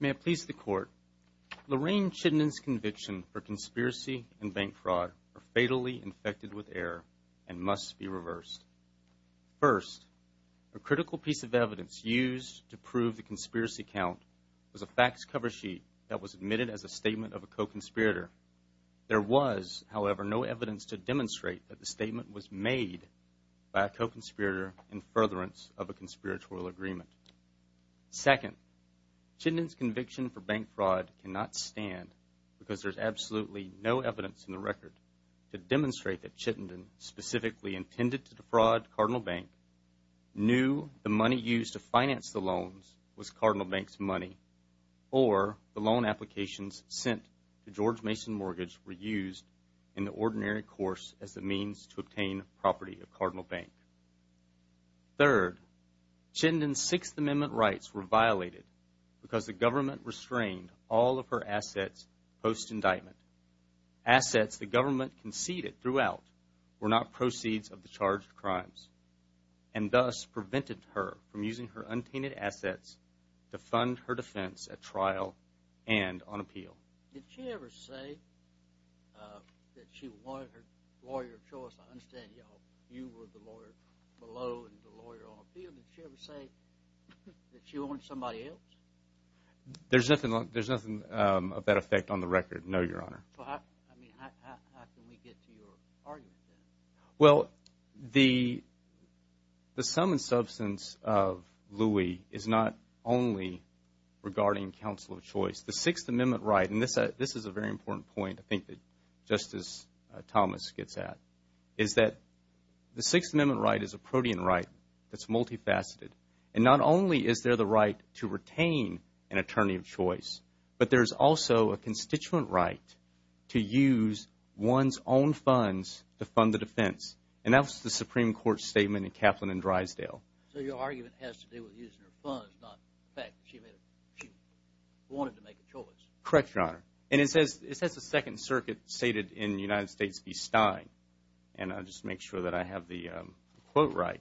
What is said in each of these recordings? May it please the Court, Lorene Chittenden's conviction for conspiracy and bank fraud are fatally infected with error and must be reversed. First, a critical piece of evidence used to prove the conspiracy count was a fax cover sheet that was admitted as a statement of a co-conspirator. There was, however, no evidence to demonstrate that the statement was made by a co-conspirator in furtherance of a conspiratorial agreement. Second, Chittenden's conviction for bank fraud cannot stand because there is absolutely no evidence in the record to demonstrate that Chittenden specifically intended to defraud Cardinal Bank, knew the Mason mortgage were used in the ordinary course as a means to obtain property of Cardinal Bank. Third, Chittenden's Sixth Amendment rights were violated because the government restrained all of her assets post-indictment. Assets the government conceded throughout were not proceeds of the charged crimes and thus prevented her from using her untainted assets to fund her defense at trial and on appeal. Did she ever say that she wanted her lawyer of choice? I understand you were the lawyer below and the lawyer on appeal. Did she ever say that she wanted somebody else? There's nothing of that effect on the record, no, Your Honor. How can we get to your argument then? Well, the sum and substance of Louis is not only regarding counsel of choice. The Sixth Amendment right, and this is a very important point I think that Justice Thomas gets at, is that the Sixth Amendment right is a protean right that's multifaceted. And not only is there the right to retain an attorney of choice, but there's also a constituent right to use one's own funds to fund the defense. And that was the Supreme Court statement in Kaplan and Drysdale. So your argument has to do with using her funds, not the fact that she wanted to make a choice. Correct, Your Honor. And it says the Second Circuit stated in the United States v. Stein, and I'll just make sure that I have the quote right,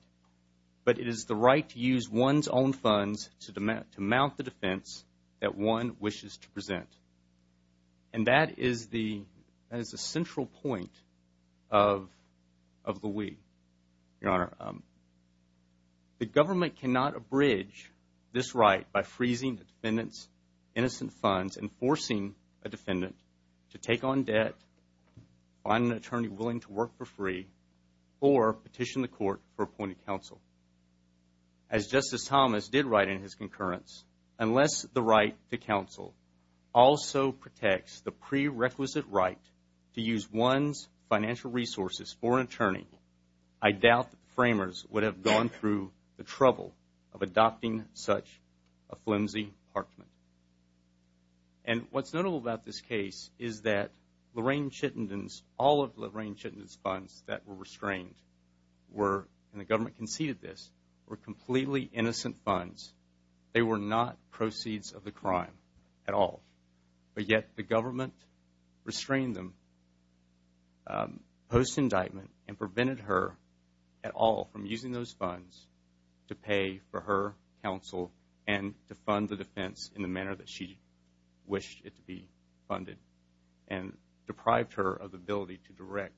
but it is the right to use one's own funds to mount the defense that one wishes to present. And that is the Supreme Court central point of Louis, Your Honor. The government cannot abridge this right by freezing the defendant's innocent funds and forcing a defendant to take on debt, find an attorney willing to work for free, or petition the court for appointed counsel. As Justice Thomas did write in his concurrence, unless the right to counsel also protects the prerequisite right to use one's financial resources for an attorney, I doubt that the framers would have gone through the trouble of adopting such a flimsy parchment. And what's notable about this case is that Lorraine Chittenden's, all of Lorraine Chittenden's funds that were restrained were, and the government conceded this, were completely innocent funds. They were not proceeds of the crime at all. But yet the government restrained them post-indictment and prevented her at all from using those funds to pay for her counsel and to fund the defense in the manner that she wished it to be funded and deprived her of the ability to direct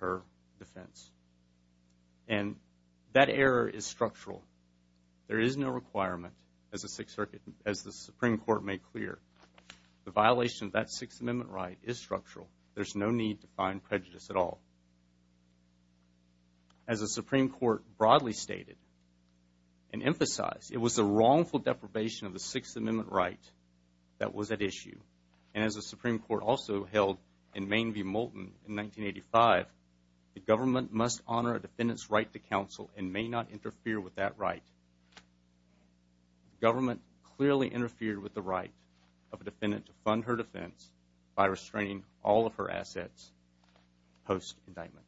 her defense. And that error is structural. There is no requirement, as the Supreme Court made clear, the violation of that Sixth Amendment right is structural. There's no need to find prejudice at all. As the Supreme Court broadly stated and emphasized, it was the wrongful deprivation of the Sixth Amendment right that was at issue. And as the Supreme Court also held in Main v. Moulton in 1985, the government must honor a defendant's right to counsel and may not interfere with that right. The government clearly interfered with the right of a defendant to fund her defense by restraining all of her assets post-indictment.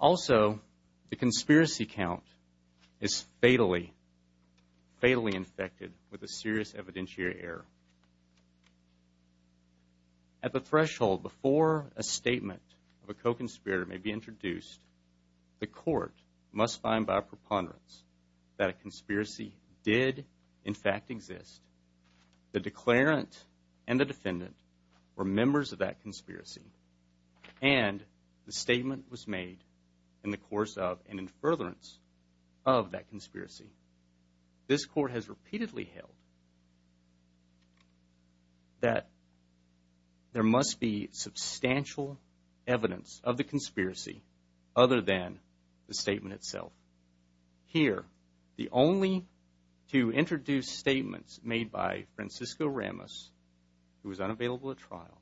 Also, the conspiracy count is fatally, fatally infected with a serious evidentiary error. At the threshold before a statement of a co-conspirator may be introduced, the court must find by a preponderance that a conspiracy did, in fact, exist. The declarant and the defendant were members of that conspiracy and the statement was made in the course of and in furtherance of that conspiracy. This court has repeatedly held that there must be substantial evidence of the conspiracy other than the statement itself. Here, the only two introduced statements made by Francisco Ramos, who was unavailable at trial,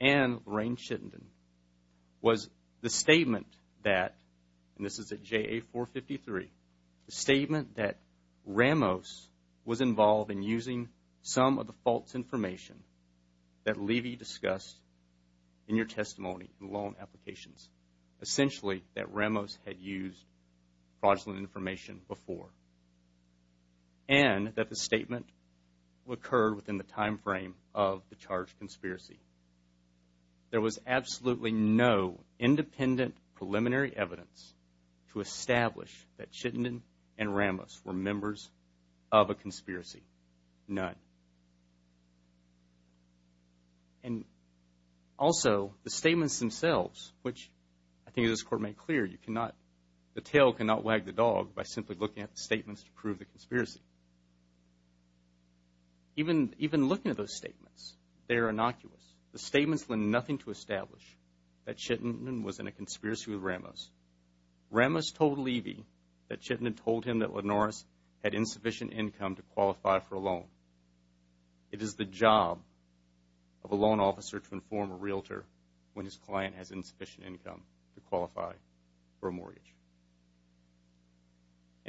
and Lorraine Chittenden was the statement that, and this is at JA 453, the statement that Ramos was involved in using some of the false information that Levy discussed in your testimony, the loan applications. Essentially, that Ramos had used fraudulent information before and that the statement occurred within the time frame of the charged conspiracy. There was absolutely no independent preliminary evidence to establish that Chittenden and Ramos were members of a conspiracy. None. Also, the statements themselves, which I think this court made clear, you cannot, the tail cannot wag the dog by simply looking at the statements to prove the conspiracy. Even looking at those statements, they are innocuous. The statements lend nothing to establish that Chittenden was in a conspiracy with Ramos. Ramos told Levy that Chittenden told him that Lenores had insufficient income to qualify for a loan. It is the job of a loan officer to inform a realtor when his client has insufficient income to qualify for a mortgage.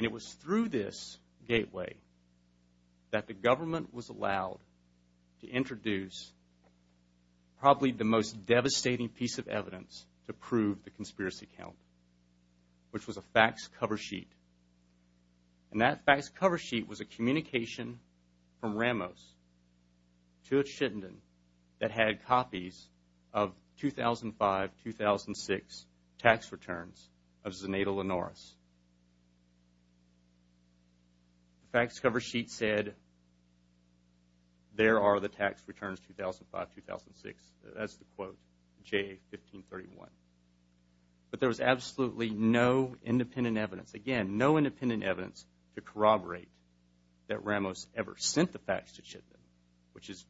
It was through this gateway that the government was allowed to introduce probably the most devastating piece of evidence to prove the conspiracy count, which was a fax cover sheet. That fax cover sheet was a communication from Ramos to Chittenden that had copies of 2005-2006 tax returns of Zenaida Lenores. The fax cover sheet said, there are the tax returns 2005-2006. That's the quote, J1531. But there was absolutely no independent evidence, again, no independent evidence to corroborate that Ramos ever sent the fax to Chittenden, which is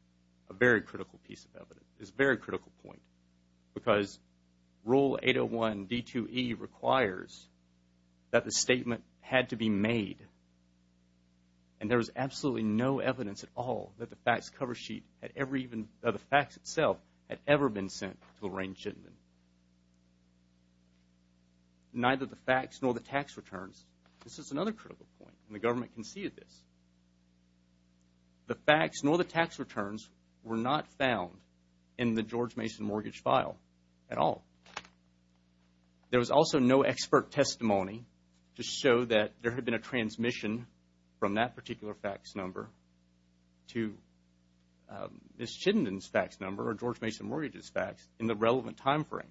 a very critical piece of evidence, is a very critical point, because Rule 801 D2E requires that the statement had to be made. And there was absolutely no evidence at all that the fax cover sheet had ever even, that the fax itself had ever been sent to Lorraine Chittenden. Neither the fax nor the tax returns, this is another critical point, and the government conceded this. The fax was never found in the George Mason mortgage file at all. There was also no expert testimony to show that there had been a transmission from that particular fax number to Ms. Chittenden's fax number or George Mason Mortgage's fax in the relevant time frame.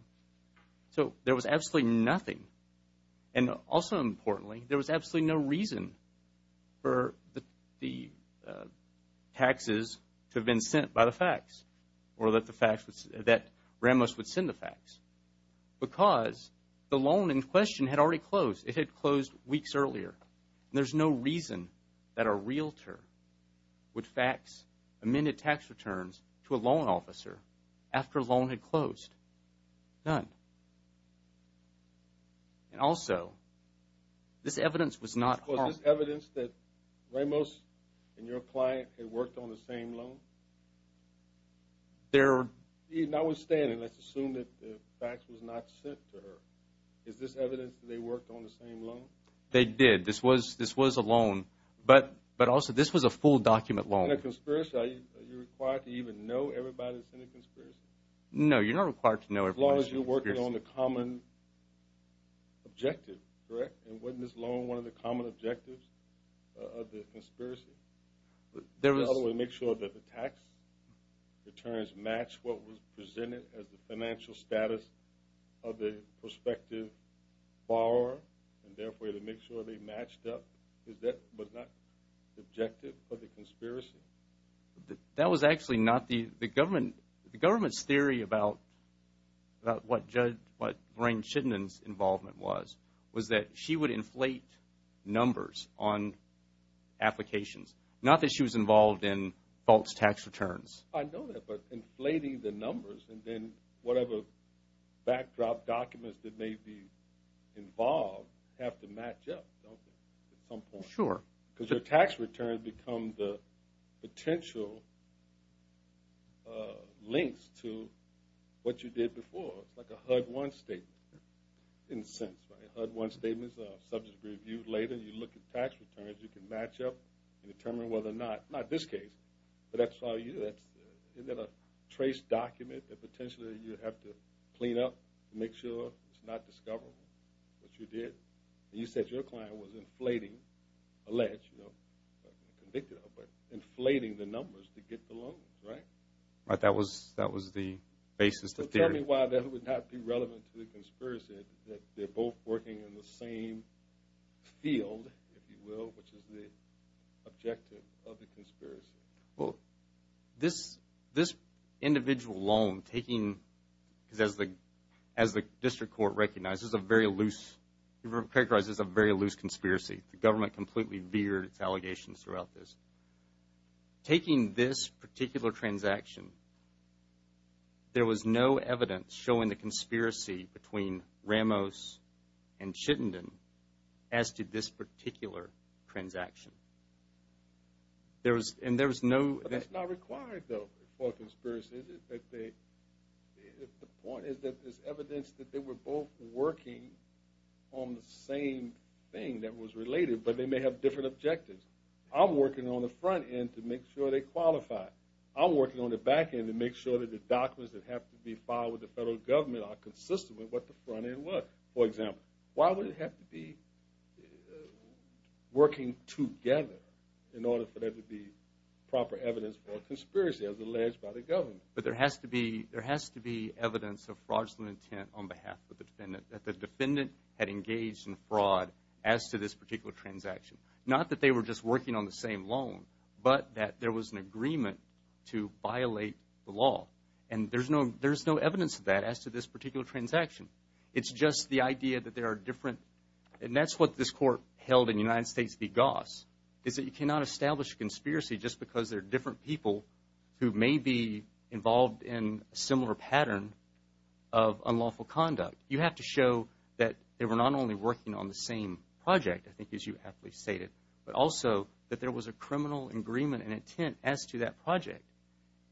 So there was absolutely nothing. And also importantly, there was absolutely no reason for the taxes to have been sent by the fax or that the fax, that Ramos would send the fax, because the loan in question had already closed. It had closed weeks earlier. There's no reason that a realtor would fax amended tax returns to a loan officer after a loan had closed. None. And also, this evidence was not... Was this evidence that Ramos and your client had worked on the same loan? There are... Notwithstanding, let's assume that the fax was not sent to her. Is this evidence that they worked on the same loan? They did. This was a loan. But also, this was a full document loan. In a conspiracy, are you required to even know everybody that's in a conspiracy? No, you're not required to know everybody that's in a conspiracy. As long as you're working on the common objective, correct? And wasn't this loan one of the common objectives of the conspiracy? There was... To make sure that the tax returns match what was presented as the financial status of the prospective borrower and therefore to make sure they matched up. Was that not the objective of the conspiracy? That was actually not the... The government's theory about what Judge... What Lorraine Chittenden's involvement was, was that she would inflate numbers on applications. Not that she was involved in false tax returns. I know that, but inflating the numbers and then whatever backdrop documents that may be involved have to match up, don't they, at some point? Sure. Because your tax returns become the potential links to what you did before. It's like a HUD-1 statement. It didn't sense, right? HUD-1 statements, subjects reviewed later, you look at tax returns, you can match up and determine whether or not... Not this case, but that's how you... Isn't that a trace document that potentially you have to clean up to make sure it's not discoverable what you did? You said your client was inflating a ledge, you know, convicted of, but inflating the numbers to get the loans, right? That was the basis of the theory. So tell me why that would not be relevant to the conspiracy that they're both working in the same field, if you will, which is the objective of the conspiracy. Well, this individual loan, taking... Because as the district court recognizes, it's a very loose... It characterizes a very loose conspiracy. The government completely veered its allegations throughout this. Taking this particular transaction, there was no evidence showing the conspiracy between Ramos and Chittenden as to this particular transaction. And there was no evidence showing there was no... But that's not required, though, for a conspiracy, is it? The point is that there's evidence that they were both working on the same thing that was related, but they may have different objectives. I'm working on the front end to make sure they qualify. I'm working on the back end to make sure that the documents that have to be filed with the federal government are consistent with what the front end was. For example, why would it have to be working together in order for there to be proper evidence for a conspiracy as alleged by the government? But there has to be evidence of fraudulent intent on behalf of the defendant, that the defendant had engaged in fraud as to this particular transaction. Not that they were just working on the same loan, but that there was an agreement to violate the law. And there's no evidence of that as to this particular transaction. It's just the idea that there is that you cannot establish a conspiracy just because there are different people who may be involved in a similar pattern of unlawful conduct. You have to show that they were not only working on the same project, I think as you aptly stated, but also that there was a criminal agreement and intent as to that project.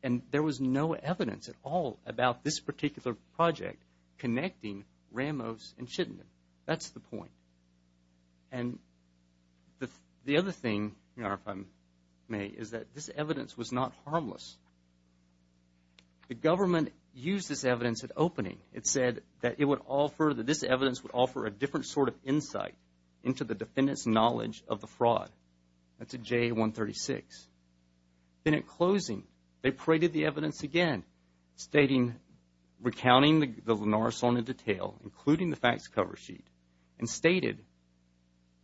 And there was no evidence at all about this particular project connecting Ramos and Chittenden. That's the point. And the other thing, if I may, is that this evidence was not harmless. The government used this evidence at opening. It said that this evidence would offer a different sort of insight into the defendant's knowledge of the fraud. That's at JA-136. Then at closing, they paraded the evidence again, stating, recounting the Linares loan in detail, including the facts cover sheet, and stated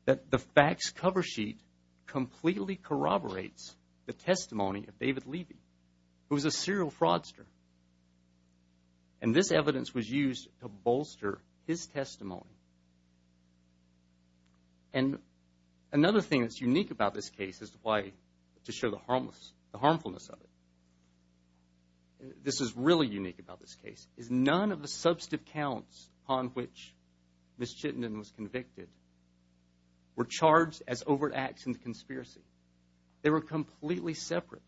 that the facts cover sheet completely corroborates the testimony of David Levy, who was a serial fraudster. And this evidence was used to bolster his testimony. And another thing that's unique about this case as to why, to show the harmfulness of it, this is really unique about this case, is none of the substantive counts on which Ms. Chittenden was convicted were charged as overt acts in the conspiracy. They were completely separate.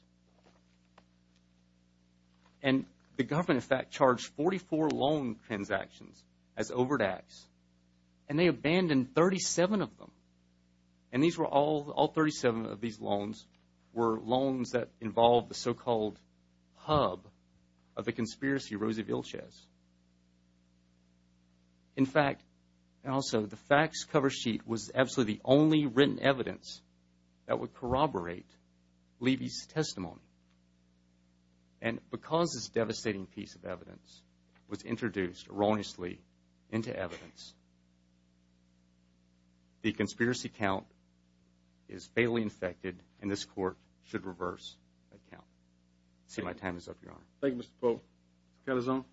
And the government, in fact, charged 44 loan transactions as overt acts, and they abandoned 37 of them. And these were all, all 37 of these loans were loans that involved the so-called hub of the conspiracy, Rosie Vilches. In fact, and also, the facts cover sheet was absolutely the only written evidence that would corroborate Levy's testimony. And because this devastating piece of evidence was introduced erroneously into evidence, the conspiracy count is fatally infected, and this Court should reverse that count. I see my time is up, Your Honor. Thank you, Mr. Pope. Mr. Calzone.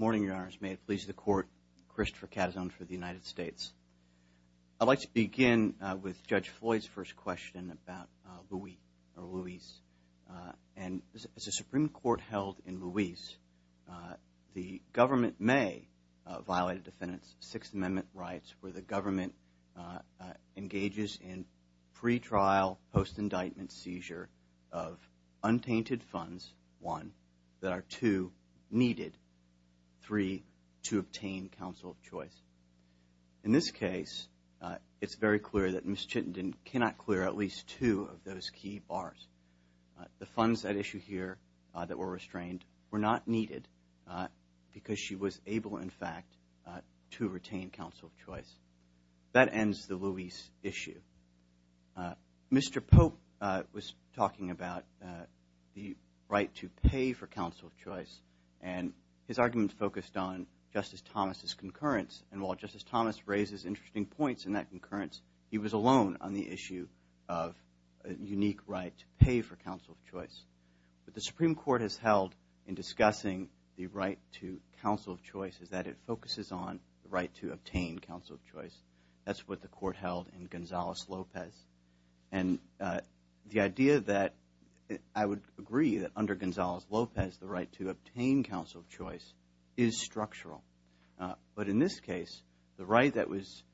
Morning, Your Honors. May it please the Court, Christopher Calzone for the United States. I'd like to begin with Judge Floyd's first question about Luis. And as a Supreme Court held in Luis, the government may violate a defendant's Sixth Amendment rights where the government engages in pretrial post-indictment seizure of untainted funds, one, that are two, needed, three, to obtain counsel of choice. In this case, it's very clear that Ms. Chittenden cannot clear at least two of those key bars. The funds at issue here that were restrained were not needed because she was able, in fact, to retain counsel of choice. That ends the Luis issue. Mr. Pope was talking about the right to pay for counsel of choice, and his argument focused on Justice Thomas' concurrence. And while Justice Thomas raises interesting points in that concurrence, he was alone on the issue of a unique right to pay for counsel of choice. What the Supreme Court has held in discussing the right to counsel of choice is that it focuses on the right to obtain counsel of choice. That's what the Court held in Gonzales-Lopez. And the idea that I would agree that under Gonzales-Lopez the right to obtain counsel of choice is structural. But in this case, the right that was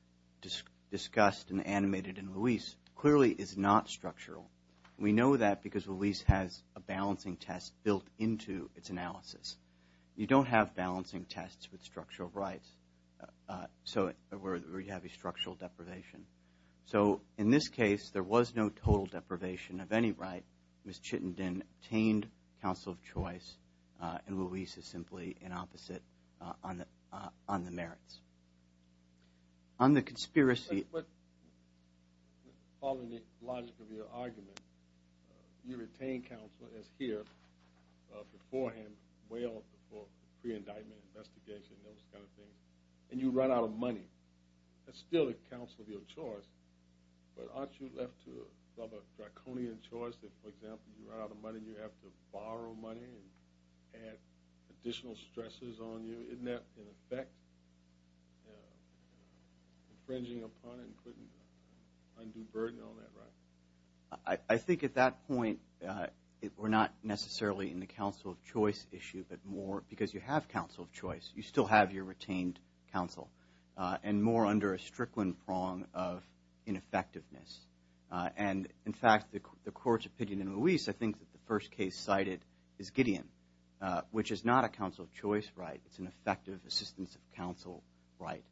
discussed and animated in Luis clearly is not structural. We know that because Luis has a balancing test built into its analysis. You don't have balancing tests with structural rights where you have a structural deprivation. So in this case, there was no total deprivation of any right. Ms. Chittenden obtained counsel of choice, and Luis is simply an opposite on the merits. On the conspiracy... But following the logic of your argument, you retain counsel as here beforehand, well before the pre-indictment investigation, those kind of things, and you run out of money. That's still a counsel of your choice, but aren't you left to some draconian choice that for example, you run out of money and you have to borrow money and add additional stresses on you? Isn't that, in effect, infringing upon and putting undue burden on that right? I think at that point, we're not necessarily in the counsel of choice issue, but more because you have counsel of choice. You still have your retained counsel. And more under a Strickland prong of ineffectiveness. And in fact, the court's opinion in Luis, I think that the first case cited is Gideon, which is not a counsel of choice right. It's an effective assistance of counsel right.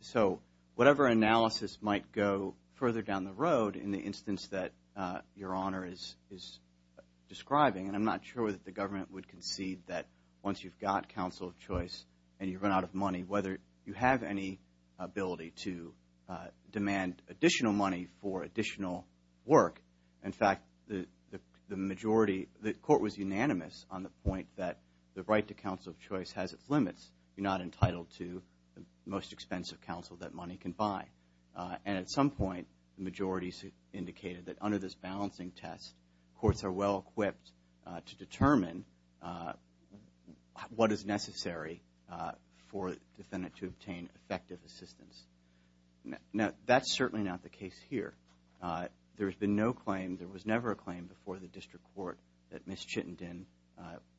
So whatever analysis might go further down the road in the instance that your honor is describing, and I'm not sure that the government would concede that once you've got counsel of choice and you run out of money, whether you have any ability to demand additional money for additional work. In fact, the majority, the court was unanimous on the point that the right to counsel of choice has its limits. You're not entitled to the most expensive counsel that money can buy. And at some point, the majority indicated that under this balancing test, courts are well equipped to determine what is necessary for the defendant to obtain effective assistance. Now that's certainly not the case here. There has been no claim, there was never a claim before the district court that Ms. Chittenden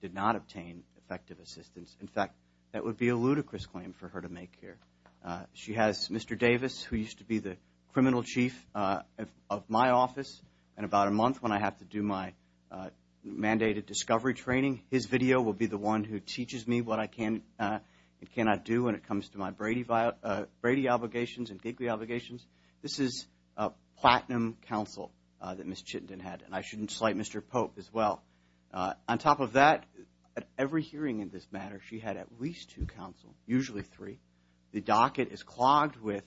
did not obtain effective assistance. In fact, that would be a ludicrous claim for her to make here. She has Mr. Davis, who used to be the criminal chief of my office, and about a month when I have to do my mandated discovery training, his video will be the one who teaches me what I can and cannot do when it comes to my Brady obligations and Gigli obligations. This is a platinum counsel that Ms. Chittenden had, and I shouldn't slight Mr. Pope as well. On top of that, at every hearing in this matter, she had at least two counsel, usually three. The docket is clogged with,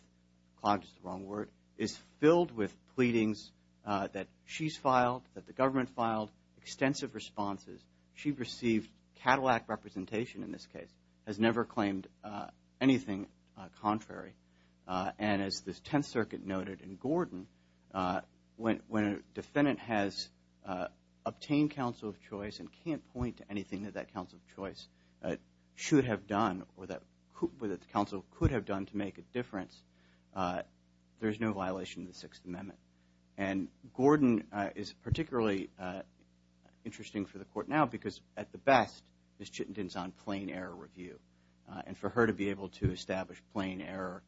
clogged is the wrong word, is filled with pleadings that she's filed, that the government filed, extensive responses. She received Cadillac representation in this case, has never claimed anything contrary. And as the Tenth Circuit noted in Gordon, when a defendant has obtained counsel of choice and can't point to anything that that counsel of choice should have done or that the counsel could have done to make a difference, there's no violation of the Sixth Amendment. And Gordon is particularly interesting for the court now because, at the best, Ms. Chittenden's on plain error review. And for her to be able to establish plain error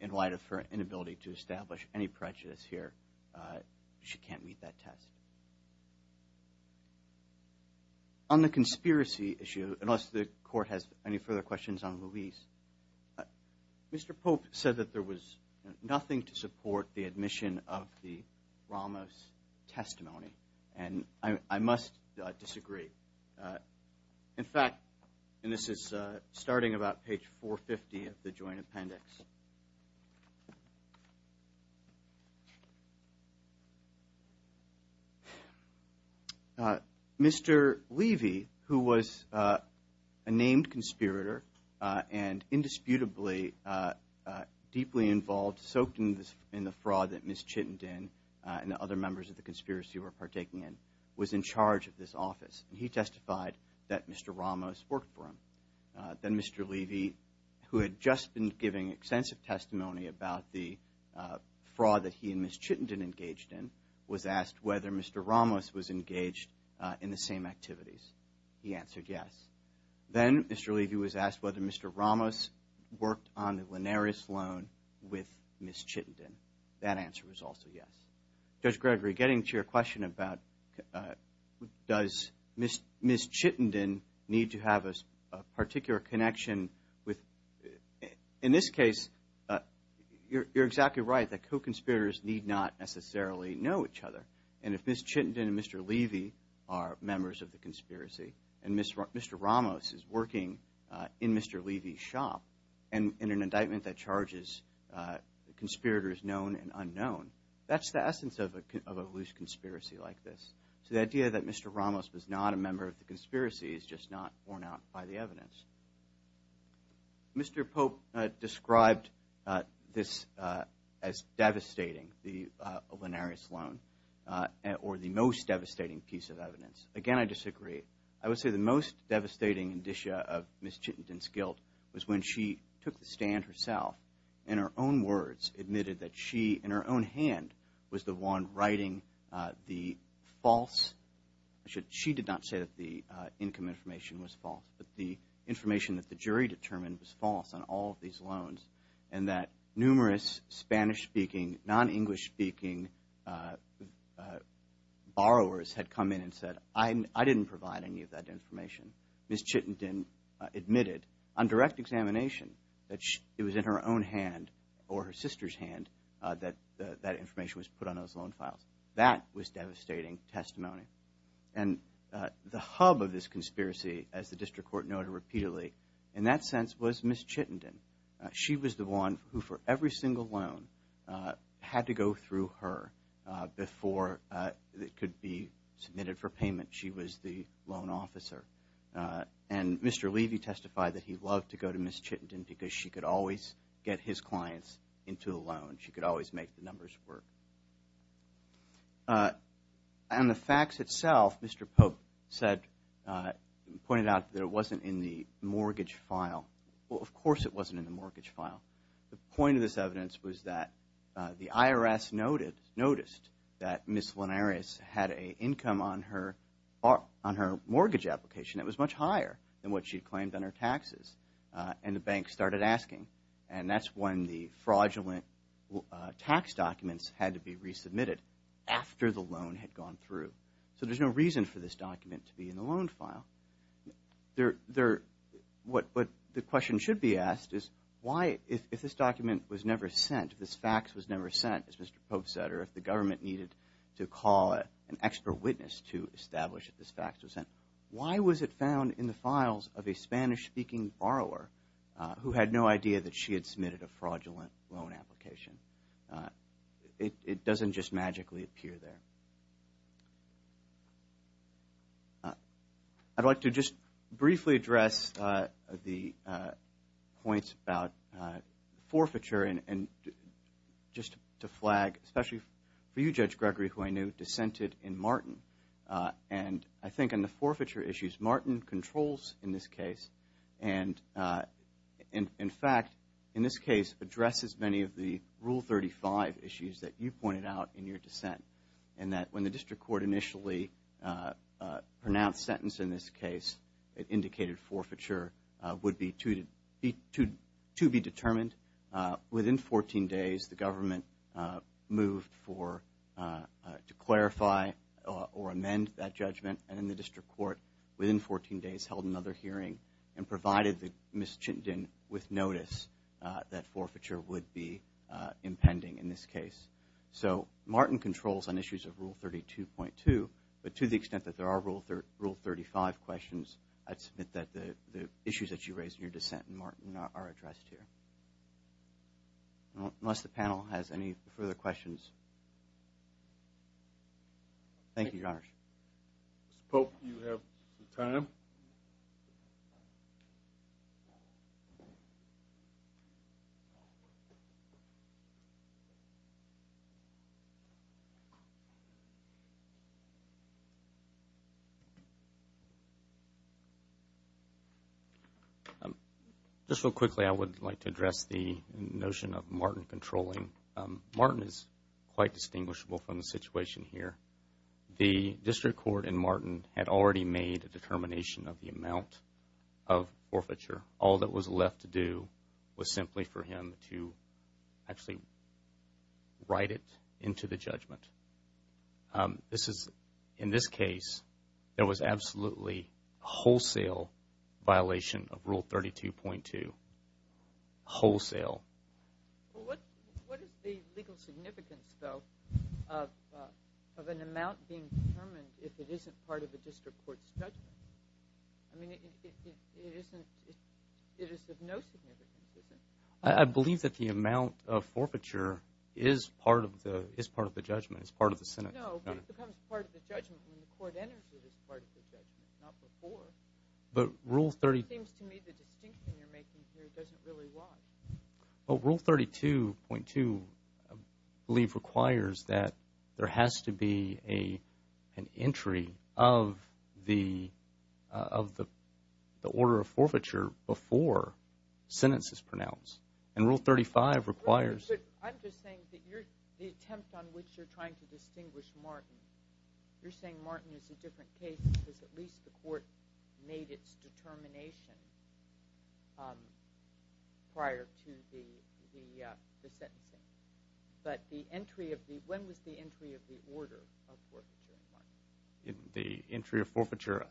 in light of her inability to establish any prejudice here, she can't meet that test. On the conspiracy issue, unless the court has any further questions on Louise, Mr. Pope said that there was nothing to support the admission of the Ramos testimony. And I must disagree. In fact, and this is starting about page 450 of the joint appendix, Mr. Levy, who was a named conspirator and indisputably deeply involved, soaked in the fraud that Ms. Chittenden and other members of the conspiracy were partaking in, was in charge of this office. He testified that Mr. Ramos worked for him. Then Mr. Levy, who had just been giving extensive testimony about the fraud that he and Ms. Chittenden engaged in, was asked whether Mr. Ramos was involved in the same activities. He answered yes. Then Mr. Levy was asked whether Mr. Ramos worked on the Linares loan with Ms. Chittenden. That answer was also yes. Judge Gregory, getting to your question about does Ms. Chittenden need to have a particular connection with, in this case, you're exactly right that co-conspirators need not necessarily know each other. And if Ms. Chittenden and Mr. Levy are members of the conspiracy and Mr. Ramos is working in Mr. Levy's shop in an indictment that charges conspirators known and unknown, that's the essence of a loose conspiracy like this. So the idea that Mr. Ramos was not a member of the conspiracy is just not borne out by the evidence. Mr. Pope described this as devastating, the Linares loan, or the most devastating piece of evidence. Again, I disagree. I would say the most devastating indicia of Ms. Chittenden's guilt was when she took the stand herself, in her own words, admitted that she, in her own hand, was the one writing the false, she did not say that the income information was the jury determined was false on all of these loans and that numerous Spanish-speaking, non-English-speaking borrowers had come in and said, I didn't provide any of that information. Ms. Chittenden admitted on direct examination that it was in her own hand or her sister's hand that that information was put on those loan files. That was devastating testimony. And the hub of this conspiracy, as the District Court noted repeatedly, in that sense was Ms. Chittenden. She was the one who, for every single loan, had to go through her before it could be submitted for payment. She was the loan officer. And Mr. Levy testified that he loved to go to Ms. Chittenden because she could always get his clients into a loan. She could always make the numbers work. And the facts itself, Mr. Pope said, pointed out that it wasn't in the mortgage file. Well, of course it wasn't in the mortgage file. The point of this evidence was that the IRS noted, noticed that Ms. Linares had an income on her mortgage application that was much higher than what she claimed on her taxes. And the bank started asking. And that's when the fraudulent tax documents had to be resubmitted after the loan had gone through. So there's no reason for this document to be in the loan file. What the question should be asked is why, if this document was never sent, if this fax was never sent, as Mr. Pope said, or if the government needed to call an extra witness to establish that this fax was sent, why was it found in the files of a Spanish-speaking borrower who had no idea that she had submitted a fraudulent loan application? It doesn't just magically appear there. I'd like to just briefly address the points about forfeiture and just to flag, especially for you, Judge Gregory, who I know dissented in Martin. And I think in the forfeiture issues, Martin controls in this case and, in fact, in this case addresses many of the Rule 35 issues that you pointed out in your dissent. And that when the district court initially pronounced sentence in this case, it indicated forfeiture would be to be determined. Within 14 days, the government moved to clarify or amend that judgment. And then the district court, within 14 days, held another hearing and provided Ms. Chittenden with notice that forfeiture would be impending in this case. So Martin controls on issues of Rule 32.2, but to the extent that there are Rule 35 questions, I'd submit that the district court has no further questions. Unless the panel has any further questions. Thank you, Your Honors. Mr. Pope, do you have some time? Just real quickly, I would like to address the notion of Martin controlling. Martin is quite distinguishable from the situation here. The district court in Martin had already made a determination of the amount of forfeiture. All that was left to do was simply for him to actually write it into the judgment. In this case, there was absolutely wholesale violation of Rule 32.2. The district court had already made a determination of the amount of forfeiture. There was absolutely wholesale. What is the legal significance, though, of an amount being determined if it isn't part of the district court's judgment? I mean, it is of no significance, isn't it? I believe that the amount of forfeiture is part of the judgment. It's part of the sentence. No, but it becomes part of the judgment when the court enters it as part of the judgment, not before. It seems to me the distinction you're making here doesn't really lie. Rule 32.2, I believe, requires that there has to be an entry of the order of forfeiture before a sentence is pronounced. Rule 35 requires... I'm just saying that the attempt on which you're trying to distinguish Martin, you're saying Martin is a different case because at least the court made its determination prior to the sentencing. When was the entry of the order of forfeiture in Martin? The entry of forfeiture,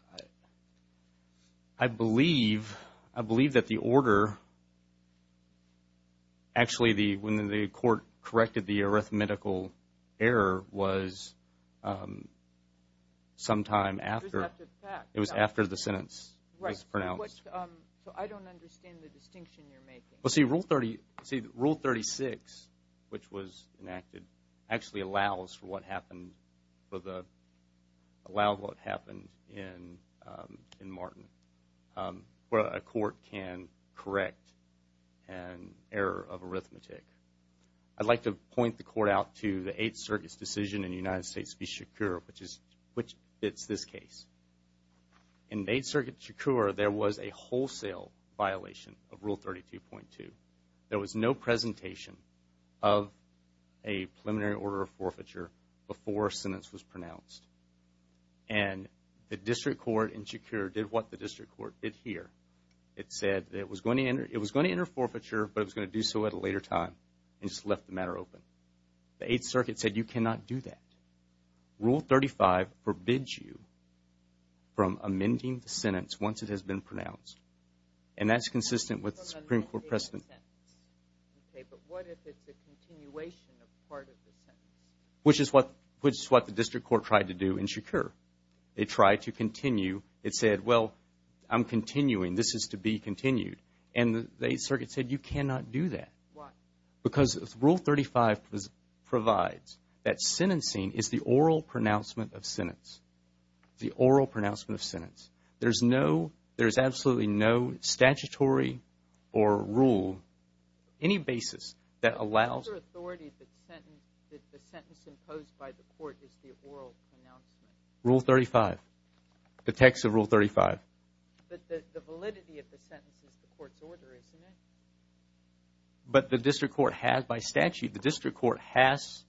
I believe that the error was sometime after the sentence was pronounced. Right. So I don't understand the distinction you're making. See, Rule 36, which was enacted, actually allows for what happened in Martin where a court can correct an error of arithmetic. I'd like to point the court out to the Eighth Circuit's decision in the United States v. Shakur, which fits this case. In Eighth Circuit Shakur, there was a wholesale violation of Rule 32.2. There was no presentation of a preliminary order of forfeiture before a sentence was pronounced. The district court in Shakur did what the district court did here. It said it was going to enter forfeiture, but it was going to do so at a later time and just left the matter open. The Eighth Circuit said you cannot do that. Rule 35 forbids you from amending the sentence once it has been pronounced. And that's consistent with the Supreme Court precedent. Okay, but what if it's a continuation of part of the sentence? Which is what the district court tried to do in Shakur. It tried to continue. It said, well, I'm continuing. This is to be continued. And the Eighth Circuit said you cannot do that. Why? Because Rule 35 provides that sentencing is the oral pronouncement of sentence. The oral pronouncement of sentence. There's no, there's absolutely no statutory or rule, any basis that allows... What's the authority that the sentence imposed by the court is the oral pronouncement? Rule 35. The text of Rule 35. But the validity of the sentence is the court's order, isn't it? But the district court has, by statute, the district court has...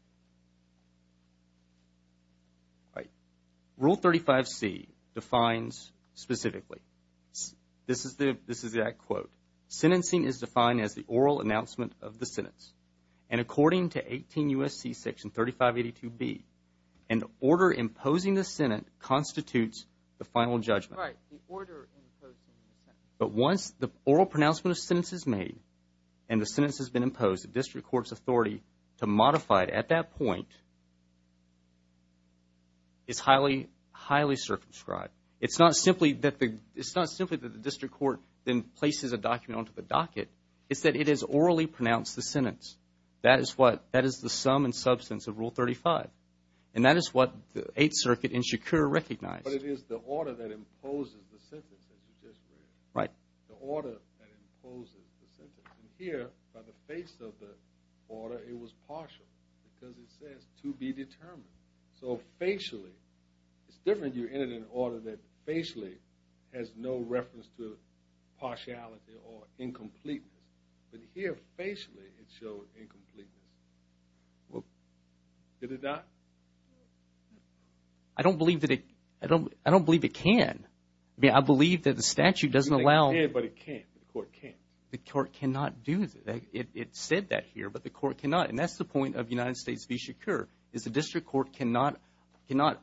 Rule 35C defines specifically, this is that quote, sentencing is defined as the oral announcement of the sentence. And according to 18 U.S.C. Section 3582B, an order imposing the sentence constitutes the final judgment. Right, the order imposing the sentence. But once the oral pronouncement of sentence is made and the sentence has been imposed, the district court's authority to modify it at that point is highly, highly circumscribed. It's not simply that the district court then places a document onto the docket. It's that it is orally pronounced, the sentence. That is what, that is the sum and substance of Rule 35. And that is what the Eighth Circuit in Shakur recognized. But it is the order that imposes the sentence, as you just read. Right. The order that imposes the sentence. And here, by the face of the order, it was partial. Because it says, to be determined. So, facially, it's different. You entered an order that has no reference to partiality or incompleteness. But here, facially, it showed incompleteness. Did it not? I don't believe that it, I don't believe it can. I mean, I believe that the statute doesn't allow. It can, but it can't. The court can't. The court cannot do that. It said that here, but the court cannot. And that's the point of United States v. Shakur, is the district court cannot, cannot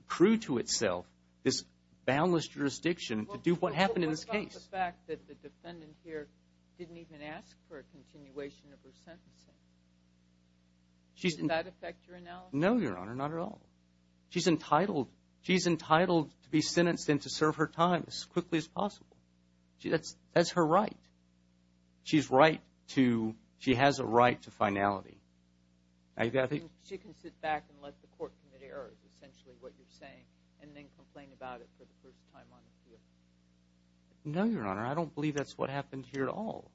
accrue to itself this boundless jurisdiction to do what happened in this case. What about the fact that the defendant here didn't even ask for a continuation of her sentencing? Does that affect your analysis? No, Your Honor, not at all. She's entitled, she's entitled to be sentenced and to serve her time as quickly as possible. That's, that's her right. She's right to, she has a right to finality. She can sit back and let the court commit errors, essentially what you're saying, and then complain about it for the first time on the field. No, Your Honor, I don't believe that's what happened here at all.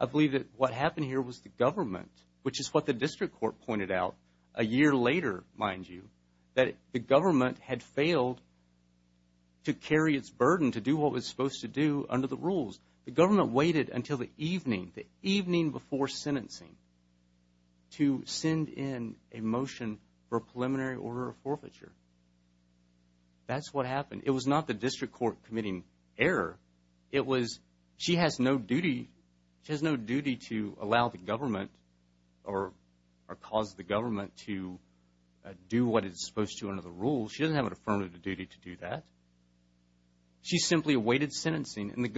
I believe that what happened here was the government, which is what the district court pointed out a year later, mind you, that the government had failed to carry its burden to do what it was supposed to do under the rules. The government waited until the evening, the evening before sentencing to send in a motion for a preliminary order of forfeiture. That's what happened. It was not the district court committing error. It was, she has no duty, she has no duty to allow the government or cause the government to do what it's supposed to under the rules. She doesn't have an affirmative duty to do that. She simply awaited sentencing and the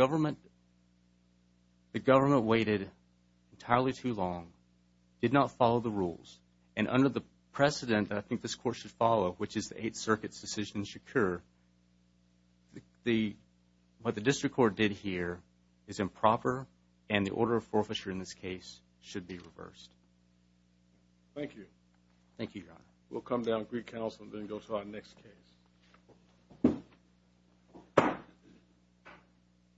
did not follow the rules. And under the precedent that I think this court should follow, which is the Eighth Circuit's decision should occur, the, what the district court did here is improper and the order of forfeiture in this case should be reversed. Thank you. Thank you, Your Honor. We'll come down and greet counsel and then go to our next case.